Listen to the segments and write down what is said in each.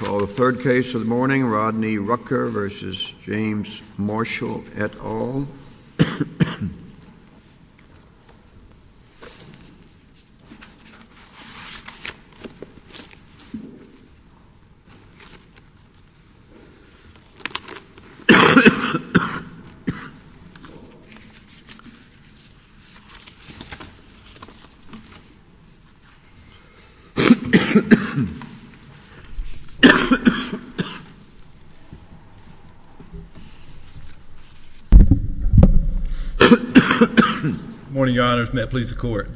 The third case this morning, Rodney Rucker versus James Marshall et al. The first case this morning, Rodney Rucker versus James Marshall et al. Good morning, your honors. May it please the court.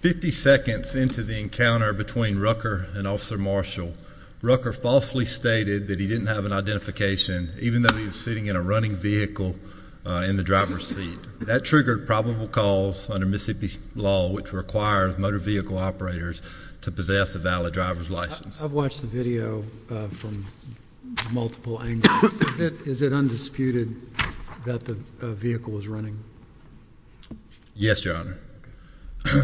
Fifty seconds into the encounter between Rucker and Officer Marshall, Rucker falsely stated that he didn't have an identification, even though he was sitting in a running vehicle in the driver's seat. That triggered probable cause under Mississippi law, which requires motor vehicle operators to possess a valid driver's license. I've watched the video from multiple angles. Is it undisputed that the vehicle was running? Yes, your honor.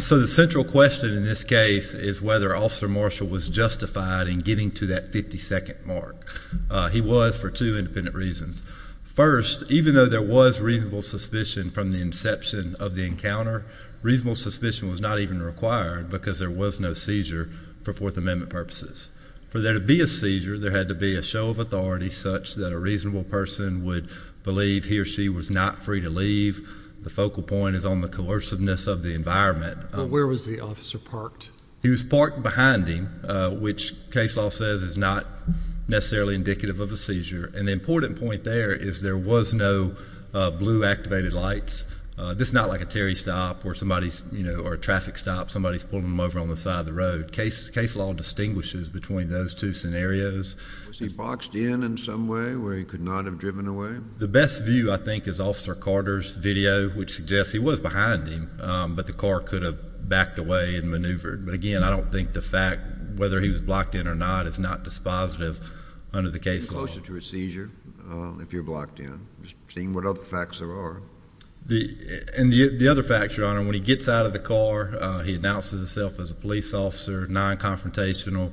So the central question in this case is whether Officer Marshall was justified in getting to that 52nd mark. He was for two independent reasons. First, even though there was reasonable suspicion from the inception of the encounter, reasonable suspicion was not even required because there was no seizure for Fourth Amendment purposes. For there to be a seizure, there had to be a show of authority such that a reasonable person would believe he or she was not free to leave. The focal point is on the coerciveness of the environment. Where was the officer parked? He was parked behind him, which case law says is not necessarily indicative of a seizure. And the important point there is there was no blue activated lights. This is not like a Terry stop or somebody's, you know, or a traffic stop. Somebody's pulling them over on the side of the road. Case law distinguishes between those two scenarios. Was he boxed in in some way where he could not have driven away? The best view, I think, is Officer Carter's video, which suggests he was behind him, but the car could have backed away and maneuvered. But, again, I don't think the fact whether he was blocked in or not is not dispositive under the case law. Closer to a seizure if you're blocked in. Just seeing what other facts there are. And the other fact, Your Honor, when he gets out of the car, he announces himself as a police officer, non-confrontational,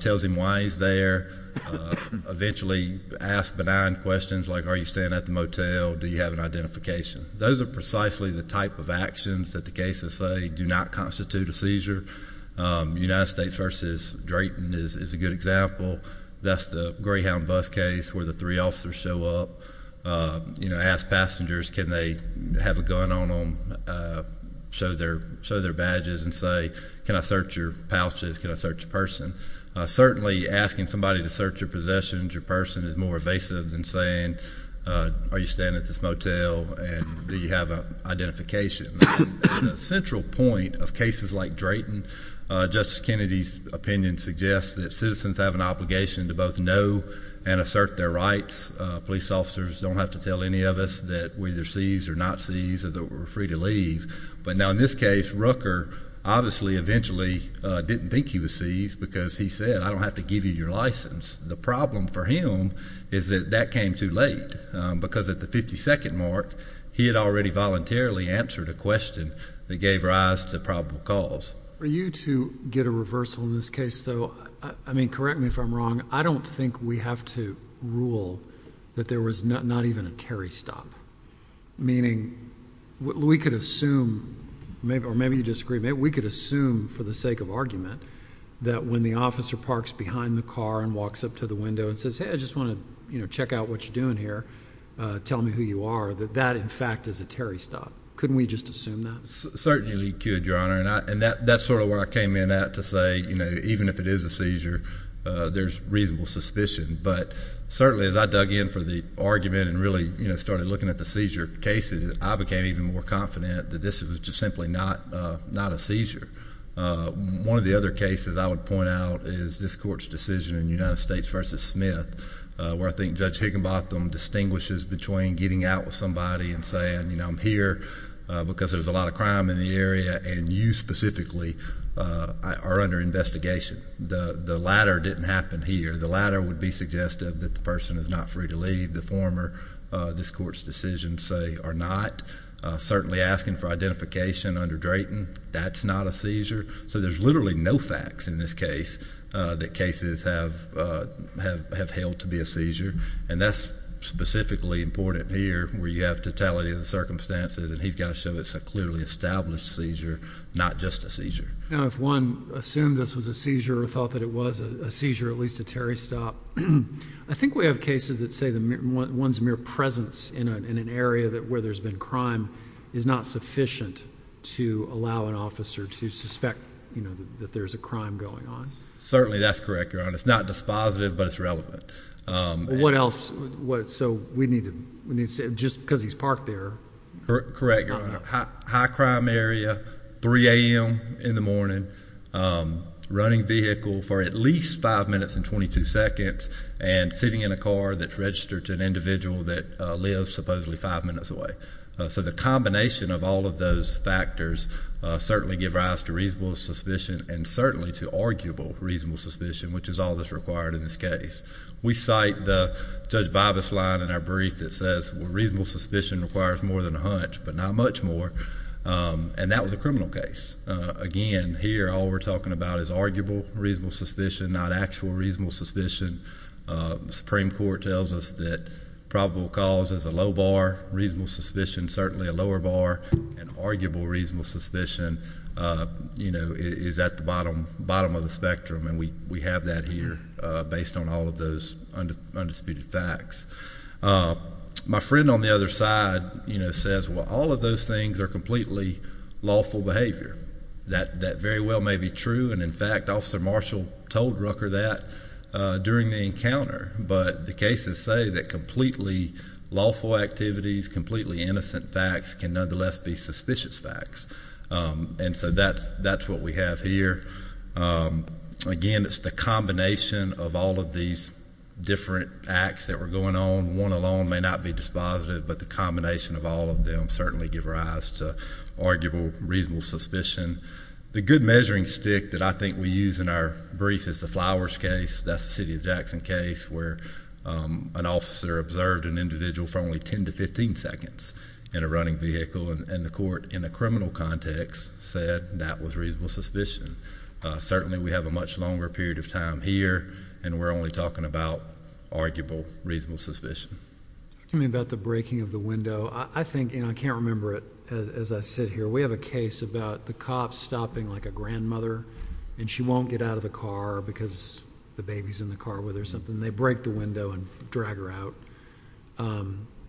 tells him why he's there, eventually asks benign questions like, are you staying at the motel, do you have an identification? Those are precisely the type of actions that the cases say do not constitute a seizure. United States v. Drayton is a good example. That's the Greyhound bus case where the three officers show up, you know, ask passengers, can they have a gun on them, show their badges and say, can I search your pouches, can I search your person? Certainly asking somebody to search your possessions, your person, is more evasive than saying, are you staying at this motel and do you have an identification? The central point of cases like Drayton, Justice Kennedy's opinion suggests that citizens have an obligation to both know and assert their rights. Police officers don't have to tell any of us that we're either seized or not seized or that we're free to leave. But now in this case, Rooker obviously eventually didn't think he was seized because he said, I don't have to give you your license. The problem for him is that that came too late because at the 52nd mark he had already voluntarily answered a question that gave rise to probable cause. For you to get a reversal in this case, though, I mean, correct me if I'm wrong, I don't think we have to rule that there was not even a Terry stop. Meaning we could assume maybe or maybe you disagree. We could assume for the sake of argument that when the officer parks behind the car and walks up to the window and says, hey, I just want to check out what you're doing here. Tell me who you are, that that, in fact, is a Terry stop. Couldn't we just assume that? Certainly could, Your Honor. And that's sort of where I came in at to say even if it is a seizure, there's reasonable suspicion. But certainly as I dug in for the argument and really started looking at the seizure cases, I became even more confident that this was just simply not a seizure. One of the other cases I would point out is this court's decision in United States v. Smith where I think Judge Higginbotham distinguishes between getting out with somebody and saying, you know, I'm here because there's a lot of crime in the area and you specifically are under investigation. The latter didn't happen here. The latter would be suggestive that the person is not free to leave. The former, this court's decision say are not. Certainly asking for identification under Drayton, that's not a seizure. So there's literally no facts in this case that cases have held to be a seizure. And that's specifically important here where you have totality of the circumstances and he's got to show it's a clearly established seizure, not just a seizure. Now if one assumed this was a seizure or thought that it was a seizure, at least a Terry stop, I think we have cases that say one's mere presence in an area where there's been crime is not sufficient to allow an officer to suspect that there's a crime going on. Certainly that's correct, Your Honor. It's not dispositive, but it's relevant. What else? So we need to, just because he's parked there. Correct, Your Honor. High crime area, 3 a.m. in the morning, running vehicle for at least five minutes and 22 seconds, and sitting in a car that's registered to an individual that lives supposedly five minutes away. So the combination of all of those factors certainly give rise to reasonable suspicion and certainly to arguable reasonable suspicion, which is all that's required in this case. We cite the Judge Bibas line in our brief that says reasonable suspicion requires more than a hunch, but not much more. And that was a criminal case. Again, here all we're talking about is arguable reasonable suspicion, not actual reasonable suspicion. The Supreme Court tells us that probable cause is a low bar, reasonable suspicion certainly a lower bar, and arguable reasonable suspicion is at the bottom of the spectrum, and we have that here based on all of those undisputed facts. My friend on the other side says, well, all of those things are completely lawful behavior. That very well may be true, and, in fact, Officer Marshall told Rucker that during the encounter, but the cases say that completely lawful activities, completely innocent facts can nonetheless be suspicious facts. And so that's what we have here. Again, it's the combination of all of these different acts that were going on. One alone may not be dispositive, but the combination of all of them certainly give rise to arguable reasonable suspicion. The good measuring stick that I think we use in our brief is the Flowers case. That's the city of Jackson case where an officer observed an individual for only 10 to 15 seconds in a running vehicle, and the court in the criminal context said that was reasonable suspicion. Certainly we have a much longer period of time here, and we're only talking about arguable reasonable suspicion. You mean about the breaking of the window? I think, and I can't remember it as I sit here, we have a case about the cop stopping like a grandmother, and she won't get out of the car because the baby's in the car with her or something. They break the window and drag her out.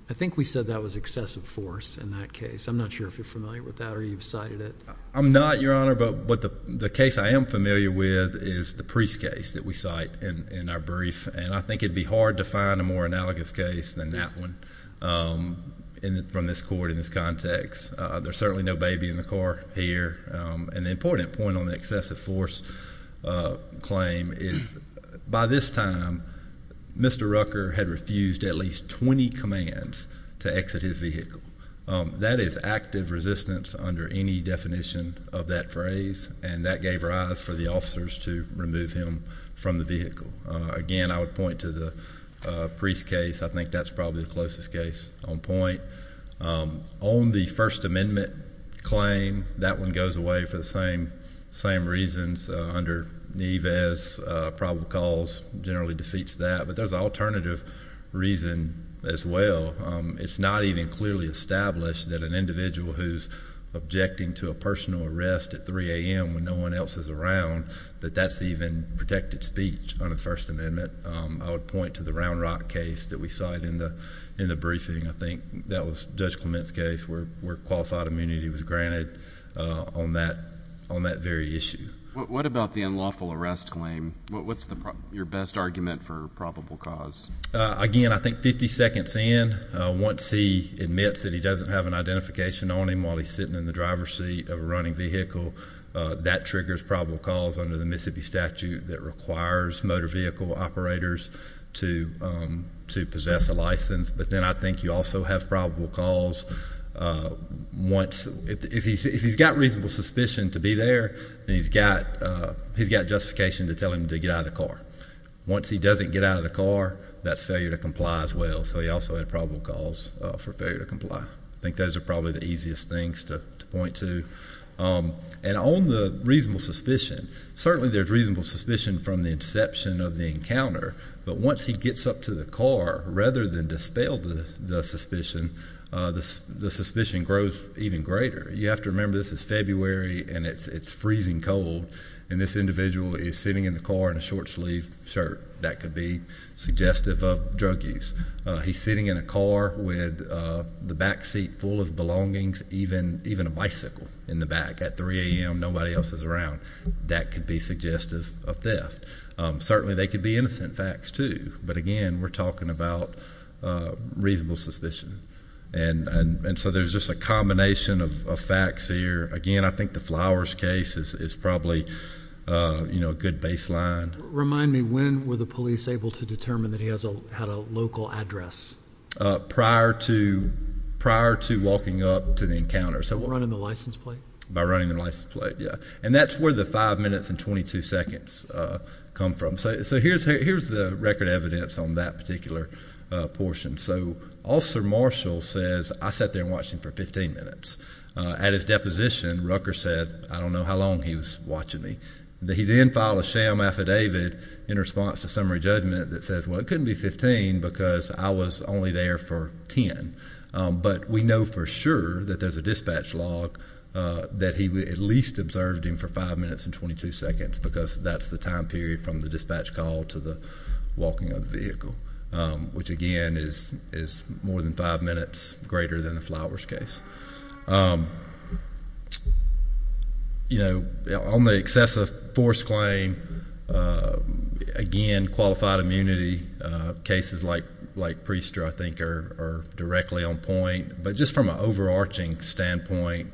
I think we said that was excessive force in that case. I'm not sure if you're familiar with that or you've cited it. I'm not, Your Honor, but the case I am familiar with is the Priest case that we cite in our brief, and I think it would be hard to find a more analogous case than that one from this court in this context. There's certainly no baby in the car here, and the important point on the excessive force claim is by this time, Mr. Rucker had refused at least 20 commands to exit his vehicle. That is active resistance under any definition of that phrase, and that gave rise for the officers to remove him from the vehicle. Again, I would point to the Priest case. I think that's probably the closest case on point. On the First Amendment claim, that one goes away for the same reasons. Under Neves, probable cause generally defeats that, but there's an alternative reason as well. It's not even clearly established that an individual who's objecting to a personal arrest at 3 a.m. when no one else is around, that that's even protected speech under the First Amendment. I would point to the Round Rock case that we cite in the briefing. I think that was Judge Clement's case where qualified immunity was granted on that very issue. What about the unlawful arrest claim? What's your best argument for probable cause? Again, I think 50 seconds in, once he admits that he doesn't have an identification on him while he's sitting in the driver's seat of a running vehicle, that triggers probable cause under the Mississippi statute that requires motor vehicle operators to possess a license. But then I think you also have probable cause once, if he's got reasonable suspicion to be there, then he's got justification to tell him to get out of the car. Once he doesn't get out of the car, that's failure to comply as well, so he also had probable cause for failure to comply. I think those are probably the easiest things to point to. And on the reasonable suspicion, certainly there's reasonable suspicion from the inception of the encounter, but once he gets up to the car, rather than dispel the suspicion, the suspicion grows even greater. You have to remember this is February and it's freezing cold, and this individual is sitting in the car in a short-sleeved shirt. That could be suggestive of drug use. He's sitting in a car with the back seat full of belongings, even a bicycle in the back at 3 a.m. Nobody else is around. That could be suggestive of theft. Certainly they could be innocent facts too, but again, we're talking about reasonable suspicion. And so there's just a combination of facts here. Again, I think the Flowers case is probably a good baseline. Remind me, when were the police able to determine that he had a local address? Prior to walking up to the encounter. By running the license plate? By running the license plate, yeah. And that's where the 5 minutes and 22 seconds come from. So here's the record evidence on that particular portion. So Officer Marshall says, I sat there and watched him for 15 minutes. At his deposition, Rucker said, I don't know how long he was watching me. He then filed a sham affidavit in response to summary judgment that says, well, it couldn't be 15 because I was only there for 10. But we know for sure that there's a dispatch log that he at least observed him for 5 minutes and 22 seconds because that's the time period from the dispatch call to the walking of the vehicle, which, again, is more than 5 minutes greater than the Flowers case. You know, on the excessive force claim, again, qualified immunity, cases like Priester, I think, are directly on point. But just from an overarching standpoint,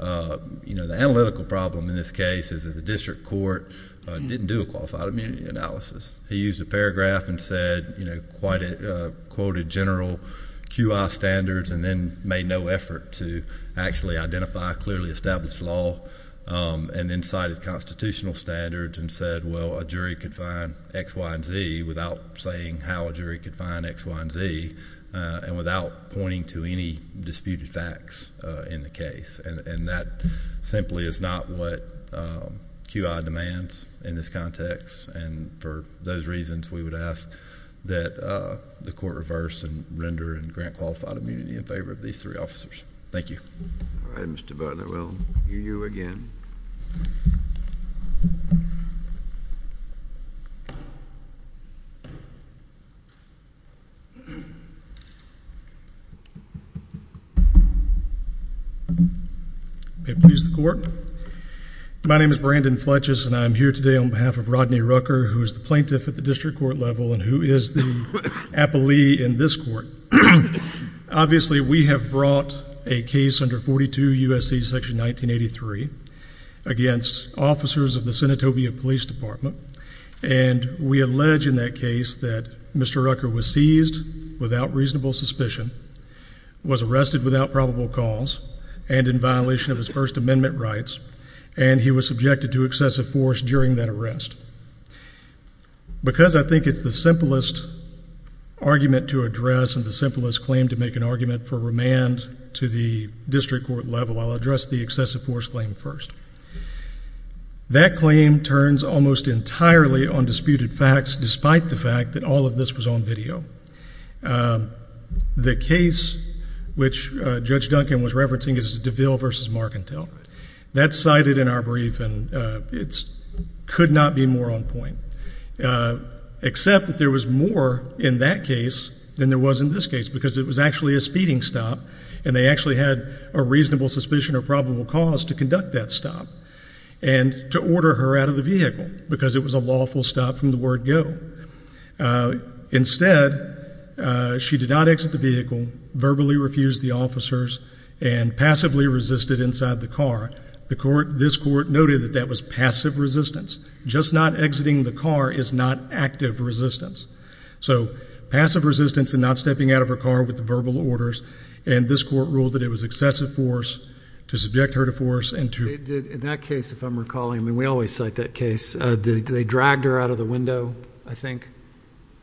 you know, the analytical problem in this case is that the district court didn't do a qualified immunity analysis. He used a paragraph and said, you know, quoted general QI standards and then made no effort to actually identify clearly established law and then cited constitutional standards and said, well, a jury could find X, Y, and Z without saying how a jury could find X, Y, and Z and without pointing to any disputed facts in the case. And that simply is not what QI demands in this context. And for those reasons, we would ask that the court reverse and render and grant qualified immunity in favor of these three officers. Thank you. All right, Mr. Butler, we'll hear you again. May it please the court. My name is Brandon Fletches, and I'm here today on behalf of Rodney Rucker, who is the plaintiff at the district court level and who is the appellee in this court. Obviously, we have brought a case under 42 U.S.C. Section 1983 against officers of the Senatobia Police Department, and we allege in that case that Mr. Rucker was seized without reasonable suspicion, was arrested without probable cause, and in violation of his First Amendment rights, and he was subjected to excessive force during that arrest. Because I think it's the simplest argument to address and the simplest claim to make an argument for remand to the district court level, I'll address the excessive force claim first. That claim turns almost entirely on disputed facts, despite the fact that all of this was on video. The case which Judge Duncan was referencing is DeVille v. Marcantel. That's cited in our brief, and it could not be more on point, except that there was more in that case than there was in this case because it was actually a speeding stop, and they actually had a reasonable suspicion of probable cause to conduct that stop and to order her out of the vehicle because it was a lawful stop from the word go. Instead, she did not exit the vehicle, verbally refused the officers, and passively resisted inside the car. This court noted that that was passive resistance. Just not exiting the car is not active resistance. So passive resistance and not stepping out of her car with verbal orders, and this court ruled that it was excessive force to subject her to force and to— In that case, if I'm recalling, and we always cite that case, they dragged her out of the window, I think.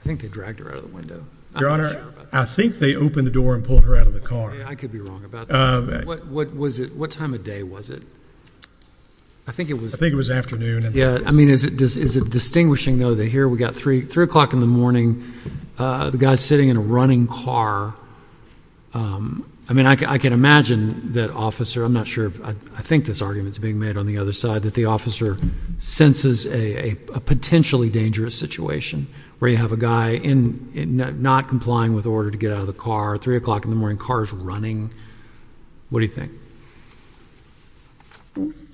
I think they dragged her out of the window. Your Honor, I think they opened the door and pulled her out of the car. I could be wrong about that. What time of day was it? I think it was afternoon. I mean, is it distinguishing, though, that here we've got 3 o'clock in the morning, the guy's sitting in a running car. I mean, I can imagine that officer—I'm not sure. I think this argument is being made on the other side, that the officer senses a potentially dangerous situation where you have a guy not complying with order to get out of the car, 3 o'clock in the morning, car's running. What do you think?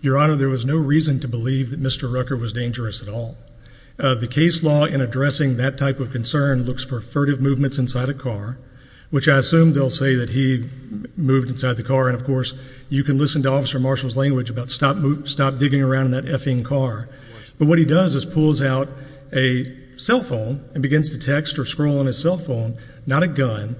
Your Honor, there was no reason to believe that Mr. Rucker was dangerous at all. The case law in addressing that type of concern looks for furtive movements inside a car, which I assume they'll say that he moved inside the car, and, of course, you can listen to Officer Marshall's language about stop digging around in that effing car. But what he does is pulls out a cell phone and begins to text or scroll on his cell phone, not a gun.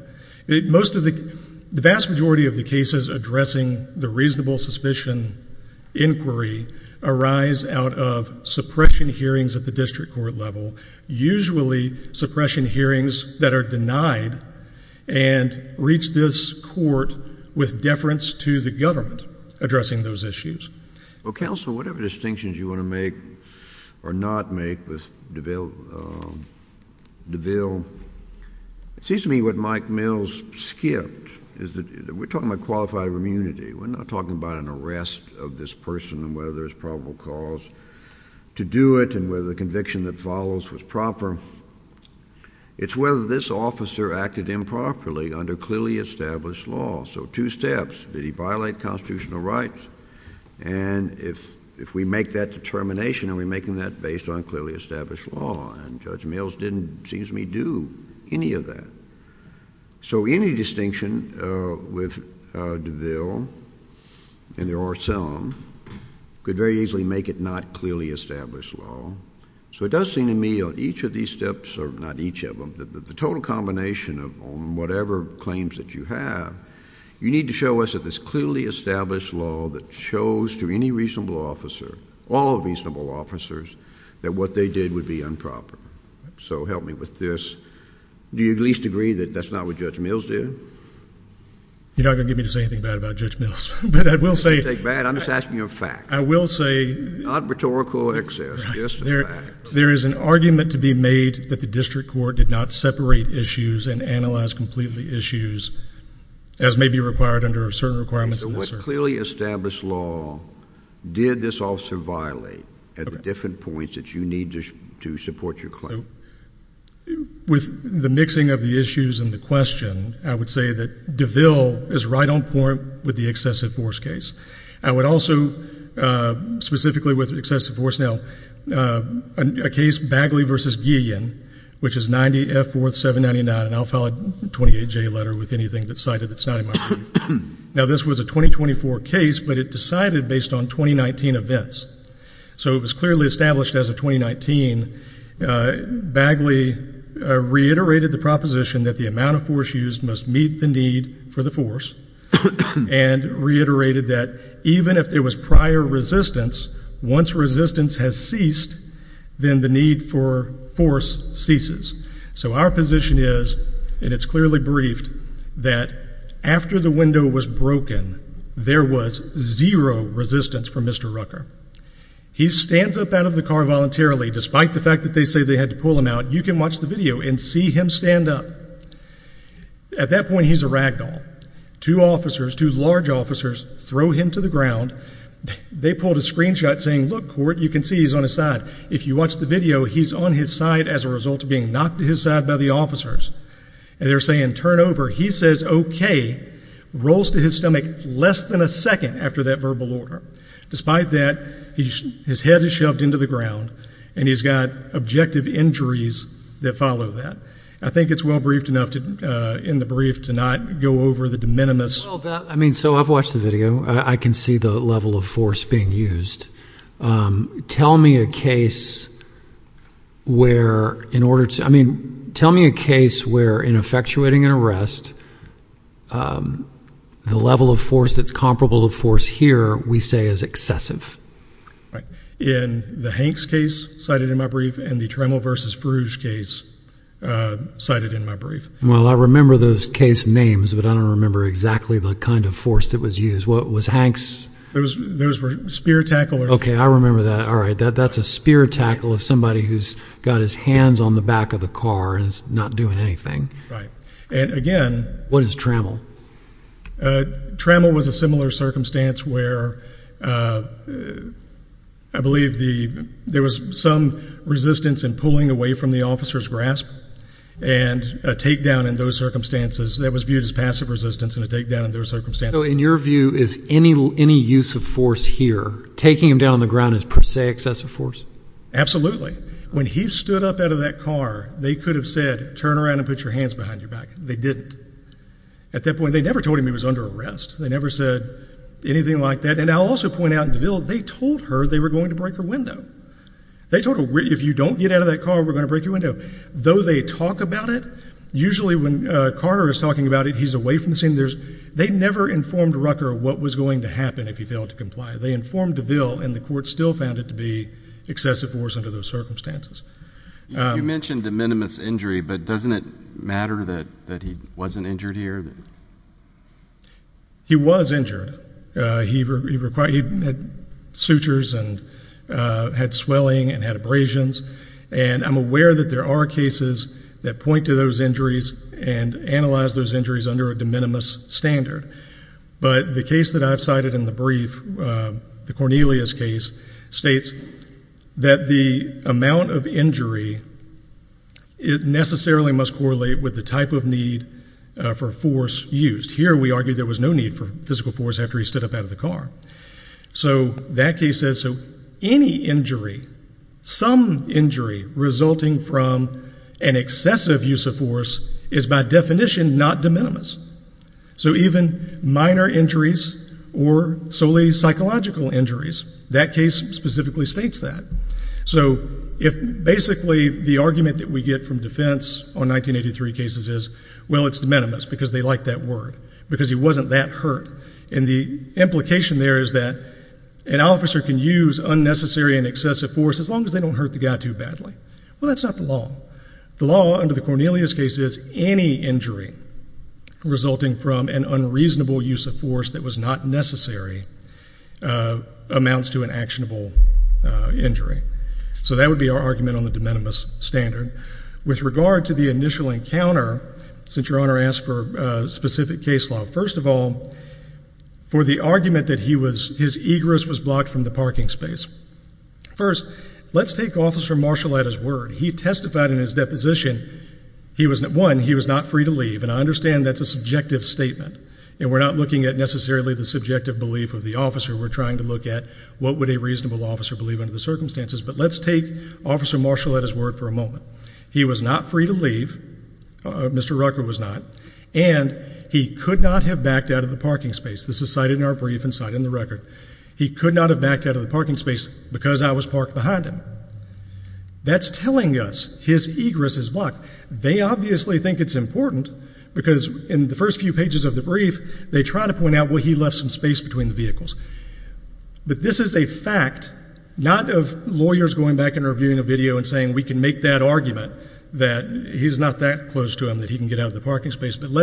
The vast majority of the cases addressing the reasonable suspicion inquiry arise out of suppression hearings at the district court level, usually suppression hearings that are denied and reach this court with deference to the government addressing those issues. Well, counsel, whatever distinctions you want to make or not make with DeVille, it seems to me what Mike Mills skipped is that we're talking about qualified immunity. We're not talking about an arrest of this person and whether there's probable cause to do it and whether the conviction that follows was proper. It's whether this officer acted improperly under clearly established law. So two steps. Did he violate constitutional rights? And if we make that determination, are we making that based on clearly established law? And Judge Mills didn't, it seems to me, do any of that. So any distinction with DeVille, and there are some, could very easily make it not clearly established law. So it does seem to me on each of these steps, or not each of them, the total combination on whatever claims that you have, you need to show us that there's clearly established law that shows to any reasonable officer, all reasonable officers, that what they did would be improper. So help me with this. Do you at least agree that that's not what Judge Mills did? You're not going to get me to say anything bad about Judge Mills, but I will say. I'm not going to say anything bad. I'm just asking a fact. I will say. Not rhetorical excess, just a fact. There is an argument to be made that the district court did not separate issues and analyze completely issues as may be required under certain requirements. So what clearly established law did this officer violate at the different points that you need to support your claim? So with the mixing of the issues and the question, I would say that DeVille is right on point with the excessive force case. I would also, specifically with excessive force, now a case Bagley v. Guillen, which is 90F4-799, and I'll file a 28-J letter with anything that's cited that's not in my opinion. Now this was a 2024 case, but it decided based on 2019 events. So it was clearly established as of 2019 Bagley reiterated the proposition that the amount of force used must meet the need for the force and reiterated that even if there was prior resistance, once resistance has ceased, then the need for force ceases. So our position is, and it's clearly briefed, that after the window was broken, there was zero resistance from Mr. Rucker. He stands up out of the car voluntarily. Despite the fact that they say they had to pull him out, you can watch the video and see him stand up. At that point, he's a rag doll. Two officers, two large officers, throw him to the ground. They pulled a screenshot saying, look, court, you can see he's on his side. If you watch the video, he's on his side as a result of being knocked to his side by the officers. And they're saying, turn over. He says okay, rolls to his stomach less than a second after that verbal order. Despite that, his head is shoved into the ground, and he's got objective injuries that follow that. I think it's well briefed enough in the brief to not go over the de minimis. So I've watched the video. I can see the level of force being used. Tell me a case where in order to, I mean, tell me a case where in effectuating an arrest, the level of force that's comparable to force here we say is excessive. In the Hanks case cited in my brief and the Tremble v. Frouge case cited in my brief. Well, I remember those case names, but I don't remember exactly the kind of force that was used. Those were spear tacklers. Okay, I remember that. All right, that's a spear tackle of somebody who's got his hands on the back of the car and is not doing anything. Right. And again. What is Tremble? Tremble was a similar circumstance where I believe there was some resistance in pulling away from the officer's grasp and a takedown in those circumstances that was viewed as passive resistance and a takedown in those circumstances. So in your view, is any use of force here, taking him down on the ground is per se excessive force? Absolutely. When he stood up out of that car, they could have said, turn around and put your hands behind your back. They didn't. At that point, they never told him he was under arrest. They never said anything like that. And I'll also point out in DeVille, they told her they were going to break her window. They told her, if you don't get out of that car, we're going to break your window. Though they talk about it, usually when Carter is talking about it, he's away from the scene. They never informed Rucker what was going to happen if he failed to comply. They informed DeVille, and the court still found it to be excessive force under those circumstances. You mentioned de minimis injury, but doesn't it matter that he wasn't injured here? He was injured. He had sutures and had swelling and had abrasions. And I'm aware that there are cases that point to those injuries and analyze those injuries under a de minimis standard. But the case that I've cited in the brief, the Cornelius case, states that the amount of injury necessarily must correlate with the type of need for force used. Here we argue there was no need for physical force after he stood up out of the car. So that case says any injury, some injury resulting from an excessive use of force, is by definition not de minimis. So even minor injuries or solely psychological injuries, that case specifically states that. So basically the argument that we get from defense on 1983 cases is, well, it's de minimis because they like that word, because he wasn't that hurt. And the implication there is that an officer can use unnecessary and excessive force as long as they don't hurt the guy too badly. Well, that's not the law. The law under the Cornelius case is any injury resulting from an unreasonable use of force that was not necessary amounts to an actionable injury. So that would be our argument on the de minimis standard. With regard to the initial encounter, since your Honor asked for a specific case law, first of all, for the argument that his egress was blocked from the parking space, first, let's take Officer Marshall at his word. He testified in his deposition, one, he was not free to leave. And I understand that's a subjective statement, and we're not looking at necessarily the subjective belief of the officer. We're trying to look at what would a reasonable officer believe under the circumstances. But let's take Officer Marshall at his word for a moment. He was not free to leave. Mr. Rucker was not. And he could not have backed out of the parking space. This is cited in our brief and cited in the record. He could not have backed out of the parking space because I was parked behind him. That's telling us his egress is blocked. They obviously think it's important because in the first few pages of the brief, they try to point out, well, he left some space between the vehicles. But this is a fact, not of lawyers going back and reviewing a video and saying we can make that argument that he's not that close to him, that he can get out of the parking space. But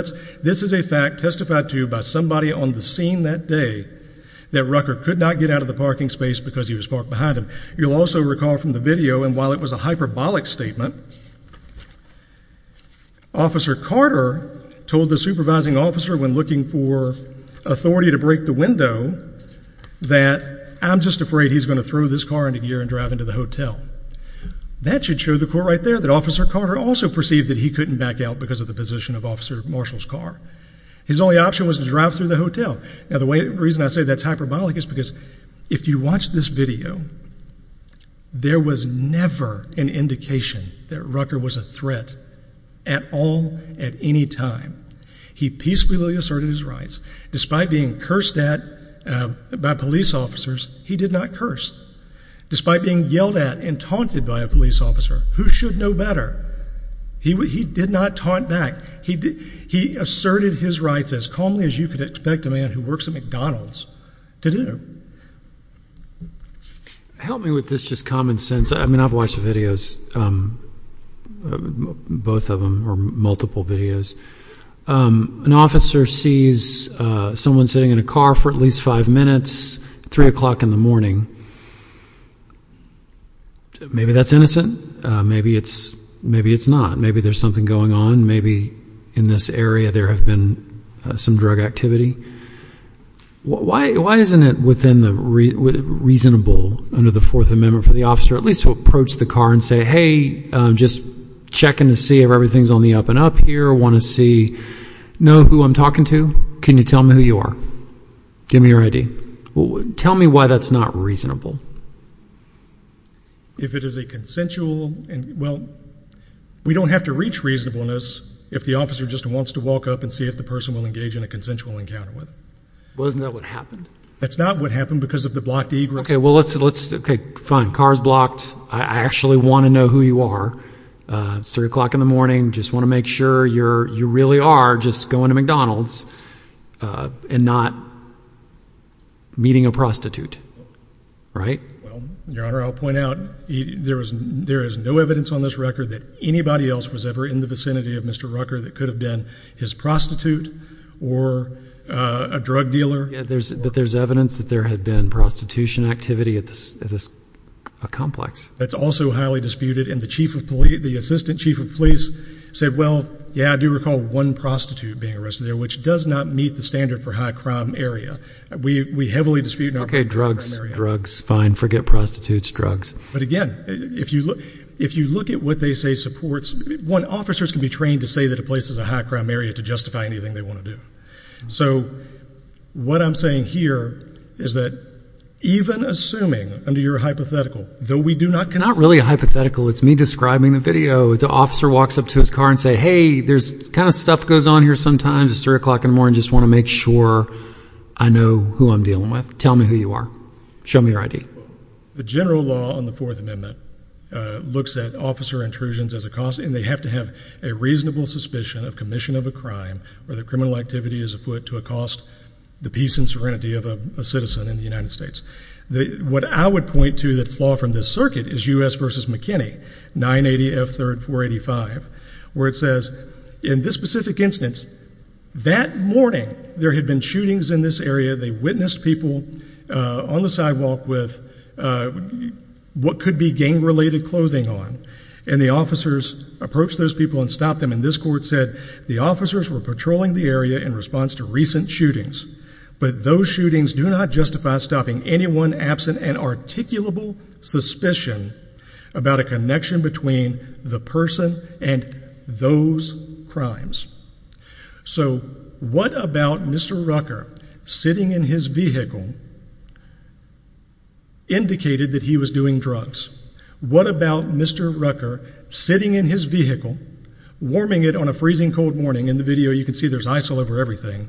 this is a fact testified to by somebody on the scene that day that Rucker could not get out of the parking space because he was parked behind him. You'll also recall from the video, and while it was a hyperbolic statement, Officer Carter told the supervising officer when looking for authority to break the window that I'm just afraid he's going to throw this car into gear and drive into the hotel. That should show the court right there that Officer Carter also perceived that he couldn't back out because of the position of Officer Marshall's car. His only option was to drive through the hotel. Now, the reason I say that's hyperbolic is because if you watch this video, there was never an indication that Rucker was a threat at all at any time. He peacefully asserted his rights. Despite being cursed at by police officers, he did not curse. Despite being yelled at and taunted by a police officer. Who should know better? He did not taunt back. He asserted his rights as calmly as you could expect a man who works at McDonald's to do. Help me with this just common sense. I mean, I've watched the videos, both of them, or multiple videos. An officer sees someone sitting in a car for at least five minutes at 3 o'clock in the morning. Maybe that's innocent. Maybe it's not. Maybe there's something going on. Maybe in this area there has been some drug activity. Why isn't it reasonable under the Fourth Amendment for the officer at least to approach the car and say, hey, I'm just checking to see if everything's on the up and up here. I want to see, know who I'm talking to. Can you tell me who you are? Give me your ID. Tell me why that's not reasonable. If it is a consensual, well, we don't have to reach reasonableness if the officer just wants to walk up and see if the person will engage in a consensual encounter with him. Well, isn't that what happened? That's not what happened because of the blocked egress. Okay, well, let's, okay, fine. The car's blocked. I actually want to know who you are. It's 3 o'clock in the morning. I just want to make sure you really are just going to McDonald's and not meeting a prostitute, right? Well, Your Honor, I'll point out there is no evidence on this record that anybody else was ever in the vicinity of Mr. Rucker that could have been his prostitute or a drug dealer. Yeah, but there's evidence that there had been prostitution activity at this complex. That's also highly disputed, and the assistant chief of police said, well, yeah, I do recall one prostitute being arrested there, which does not meet the standard for high-crime area. We heavily dispute high-crime area. Okay, drugs, drugs, fine, forget prostitutes, drugs. But, again, if you look at what they say supports, one, officers can be trained to say that a place is a high-crime area to justify anything they want to do. So what I'm saying here is that even assuming under your hypothetical, though we do not consider – It's not really a hypothetical. It's me describing the video. The officer walks up to his car and says, hey, there's kind of stuff goes on here sometimes at 3 o'clock in the morning. I just want to make sure I know who I'm dealing with. Tell me who you are. Show me your ID. The general law on the Fourth Amendment looks at officer intrusions as a cause, and they have to have a reasonable suspicion of commission of a crime where the criminal activity is afoot to accost the peace and serenity of a citizen in the United States. What I would point to that's law from this circuit is U.S. v. McKinney, 980 F. 3rd, 485, where it says in this specific instance that morning there had been shootings in this area. They witnessed people on the sidewalk with what could be gang-related clothing on, and the officers approached those people and stopped them. And this court said the officers were patrolling the area in response to recent shootings, but those shootings do not justify stopping anyone absent an articulable suspicion about a connection between the person and those crimes. So what about Mr. Rucker sitting in his vehicle indicated that he was doing drugs? What about Mr. Rucker sitting in his vehicle, warming it on a freezing cold morning, in the video you can see there's ice all over everything,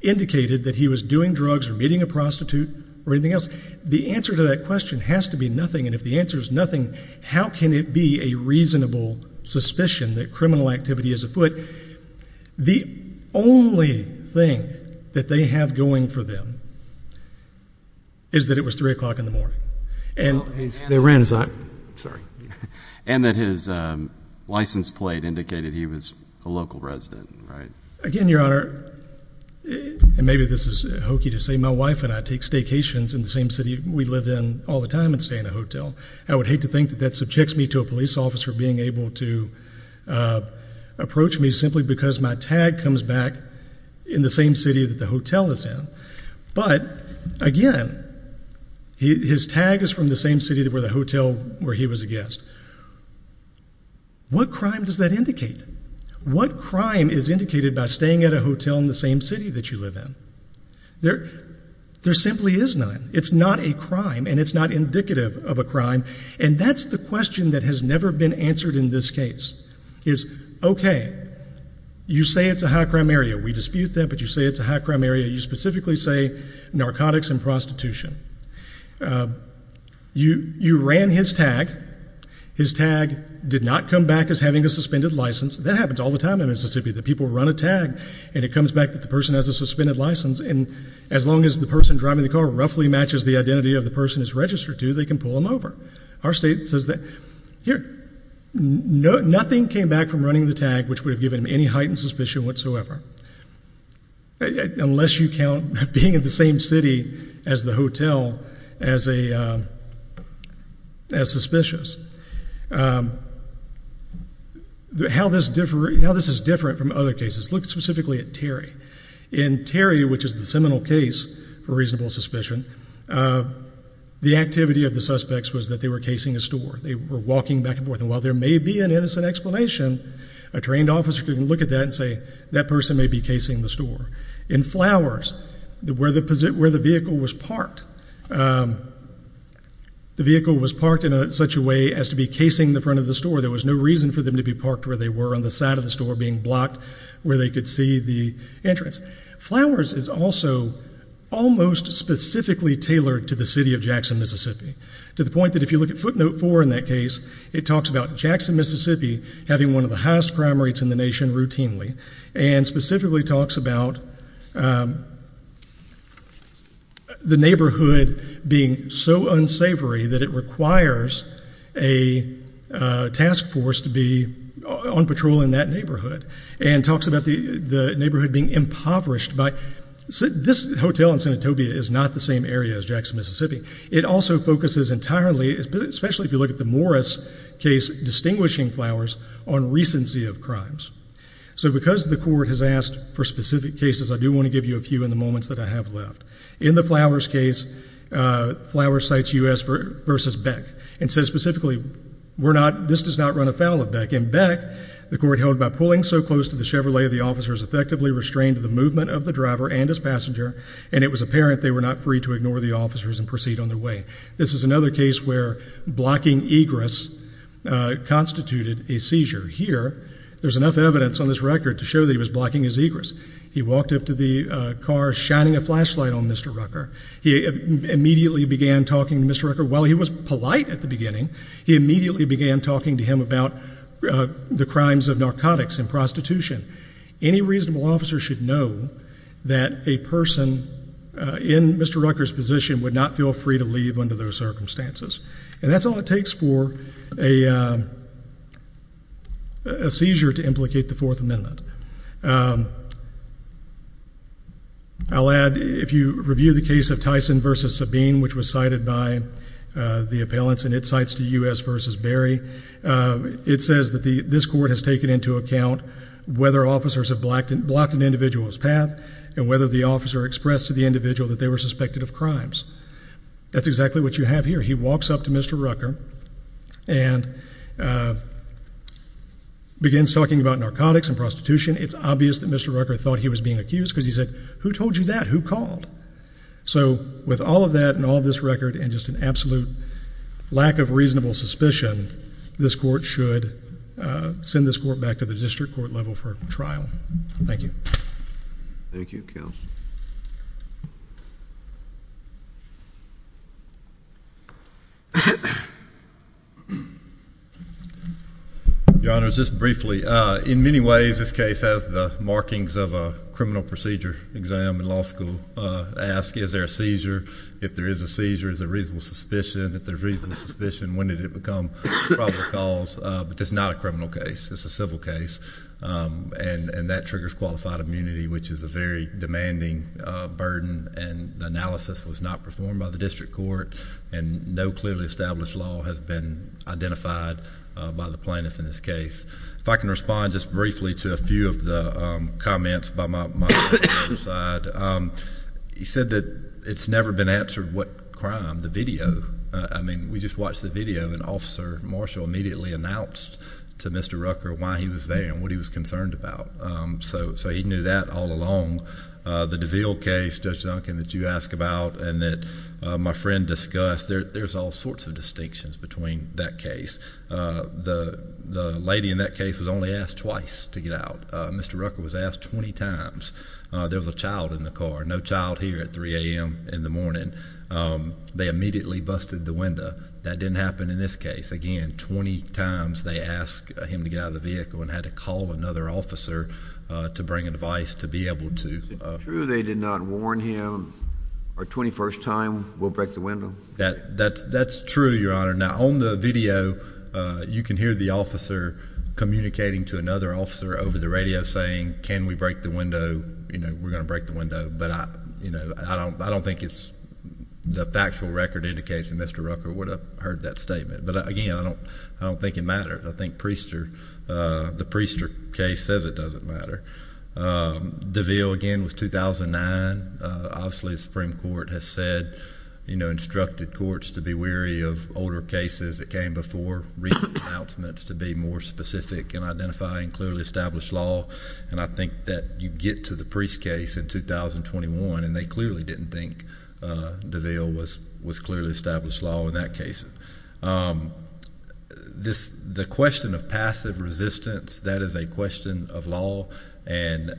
indicated that he was doing drugs or meeting a prostitute or anything else? The answer to that question has to be nothing, and if the answer is nothing, how can it be a reasonable suspicion that criminal activity is afoot? The only thing that they have going for them is that it was 3 o'clock in the morning. And that his license plate indicated he was a local resident, right? Again, Your Honor, and maybe this is hokey to say, my wife and I take staycations in the same city we live in all the time and stay in a hotel. I would hate to think that that subjects me to a police officer being able to approach me simply because my tag comes back in the same city that the hotel is in. But, again, his tag is from the same city where the hotel where he was a guest. What crime does that indicate? What crime is indicated by staying at a hotel in the same city that you live in? There simply is none. It's not a crime, and it's not indicative of a crime, and that's the question that has never been answered in this case is, okay, you say it's a high-crime area. We dispute that, but you say it's a high-crime area. You specifically say narcotics and prostitution. You ran his tag. His tag did not come back as having a suspended license. That happens all the time in Mississippi, that people run a tag, and it comes back that the person has a suspended license, and as long as the person driving the car roughly matches the identity of the person it's registered to, they can pull him over. Our state says that, here, nothing came back from running the tag which would have given him any heightened suspicion whatsoever. Unless you count being in the same city as the hotel as suspicious. How this is different from other cases, look specifically at Terry. In Terry, which is the seminal case for reasonable suspicion, the activity of the suspects was that they were casing a store. They were walking back and forth, and while there may be an innocent explanation, a trained officer can look at that and say, that person may be casing the store. In Flowers, where the vehicle was parked, the vehicle was parked in such a way as to be casing the front of the store. There was no reason for them to be parked where they were, on the side of the store being blocked where they could see the entrance. Flowers is also almost specifically tailored to the city of Jackson, Mississippi, to the point that if you look at footnote four in that case, it talks about Jackson, Mississippi having one of the highest crime rates in the nation routinely and specifically talks about the neighborhood being so unsavory that it requires a task force to be on patrol in that neighborhood and talks about the neighborhood being impoverished. This hotel in Senatobia is not the same area as Jackson, Mississippi. It also focuses entirely, especially if you look at the Morris case, distinguishing Flowers on recency of crimes. So because the court has asked for specific cases, I do want to give you a few in the moments that I have left. In the Flowers case, Flowers cites U.S. v. Beck and says specifically, this does not run afoul of Beck. In Beck, the court held, by pulling so close to the Chevrolet, the officers effectively restrained the movement of the driver and his passenger, and it was apparent they were not free to ignore the officers and proceed on their way. This is another case where blocking egress constituted a seizure. Here, there's enough evidence on this record to show that he was blocking his egress. He walked up to the car shining a flashlight on Mr. Rucker. He immediately began talking to Mr. Rucker. While he was polite at the beginning, he immediately began talking to him about the crimes of narcotics and prostitution. Any reasonable officer should know that a person in Mr. Rucker's position would not feel free to leave under those circumstances. And that's all it takes for a seizure to implicate the Fourth Amendment. I'll add, if you review the case of Tyson v. Sabine, which was cited by the appellants and it cites the U.S. v. Berry, it says that this court has taken into account whether officers have blocked an individual's path and whether the officer expressed to the individual that they were suspected of crimes. That's exactly what you have here. He walks up to Mr. Rucker and begins talking about narcotics and prostitution. It's obvious that Mr. Rucker thought he was being accused because he said, who told you that? Who called? So with all of that and all of this record and just an absolute lack of reasonable suspicion, this court should send this court back to the district court level for trial. Thank you. Thank you, counsel. Your Honor, just briefly, in many ways this case has the markings of a criminal procedure exam and law school ask, is there a seizure? If there is a seizure, is there reasonable suspicion? If there's reasonable suspicion, when did it become a probable cause? But it's not a criminal case. It's a civil case and that triggers qualified immunity, which is a very demanding burden and the analysis was not performed by the district court and no clearly established law has been identified by the plaintiff in this case. If I can respond just briefly to a few of the comments by my side. He said that it's never been answered what crime, the video. I mean, we just watched the video and Officer Marshall immediately announced to Mr. Rucker why he was there and what he was concerned about. So he knew that all along. The DeVille case, Judge Duncan, that you ask about and that my friend discussed, there's all sorts of distinctions between that case. The lady in that case was only asked twice to get out. Mr. Rucker was asked 20 times. There was a child in the car, no child here at 3 a.m. in the morning. They immediately busted the window. That didn't happen in this case. Again, 20 times they asked him to get out of the vehicle and had to call another officer to bring advice to be able to. Is it true they did not warn him, our 21st time, we'll break the window? That's true, Your Honor. Now, on the video, you can hear the officer communicating to another officer over the radio saying, can we break the window? We're going to break the window. But I don't think it's the factual record indicates that Mr. Rucker would have heard that statement. But, again, I don't think it matters. I think the Priester case says it doesn't matter. DeVille, again, was 2009. Obviously the Supreme Court has said, you know, instructed courts to be weary of older cases that came before recent announcements to be more specific in identifying clearly established law. And I think that you get to the Priest case in 2021, and they clearly didn't think DeVille was clearly established law in that case. The question of passive resistance, that is a question of law, and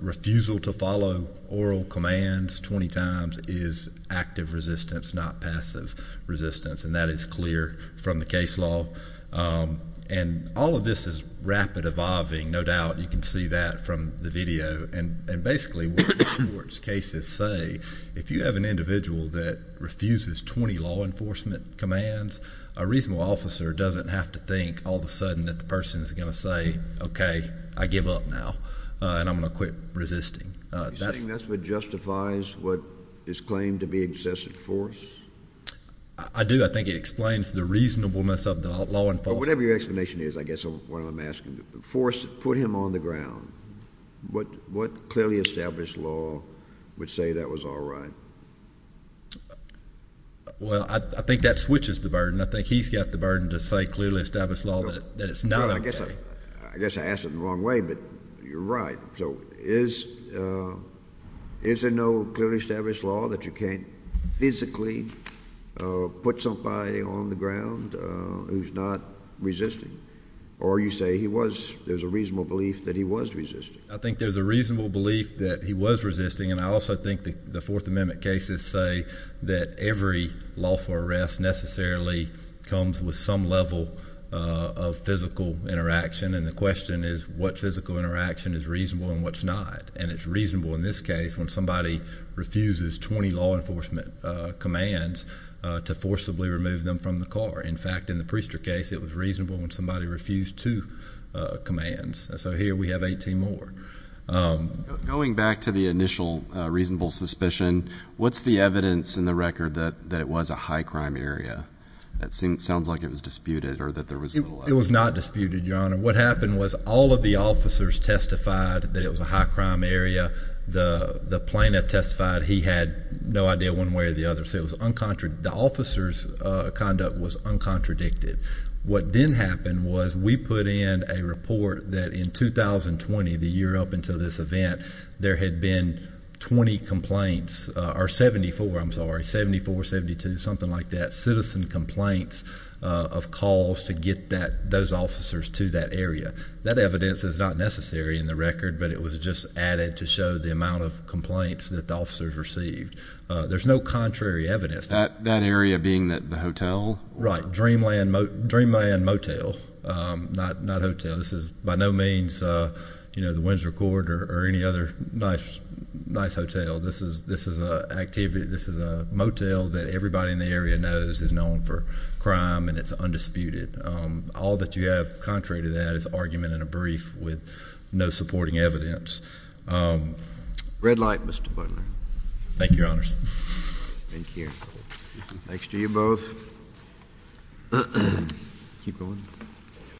refusal to follow oral commands 20 times is active resistance, not passive resistance. And that is clear from the case law. And all of this is rapid evolving, no doubt. You can see that from the video. And basically what these courts' cases say, if you have an individual that refuses 20 law enforcement commands, a reasonable officer doesn't have to think all of a sudden that the person is going to say, okay, I give up now, and I'm going to quit resisting. You're saying that's what justifies what is claimed to be excessive force? I do. I think it explains the reasonableness of the law enforcement. Whatever your explanation is, I guess what I'm asking, force, put him on the ground. What clearly established law would say that was all right? Well, I think that switches the burden. I think he's got the burden to say clearly established law that it's not okay. I guess I asked it the wrong way, but you're right. So is there no clearly established law that you can't physically put somebody on the ground who's not resisting? Or you say there's a reasonable belief that he was resisting? I think there's a reasonable belief that he was resisting, and I also think the Fourth Amendment cases say that every lawful arrest necessarily comes with some level of physical interaction, and the question is what physical interaction is reasonable and what's not. And it's reasonable in this case when somebody refuses 20 law enforcement commands to forcibly remove them from the car. In fact, in the Priester case, it was reasonable when somebody refused two commands. So here we have 18 more. Going back to the initial reasonable suspicion, what's the evidence in the record that it was a high-crime area? That sounds like it was disputed or that there was little evidence. It was not disputed, Your Honor. What happened was all of the officers testified that it was a high-crime area. The plaintiff testified he had no idea one way or the other, so the officer's conduct was uncontradicted. What then happened was we put in a report that in 2020, the year up until this event, there had been 20 complaints or 74, I'm sorry, 74, 72, something like that, citizen complaints of calls to get those officers to that area. That evidence is not necessary in the record, but it was just added to show the amount of complaints that the officers received. There's no contrary evidence. That area being the hotel? Right, Dreamland Motel, not hotel. This is by no means the Windsor Court or any other nice hotel. This is a motel that everybody in the area knows is known for crime, and it's undisputed. All that you have contrary to that is argument in a brief with no supporting evidence. Red light, Mr. Butler. Thank you, Your Honors. Thank you. Thanks. Thanks to you both.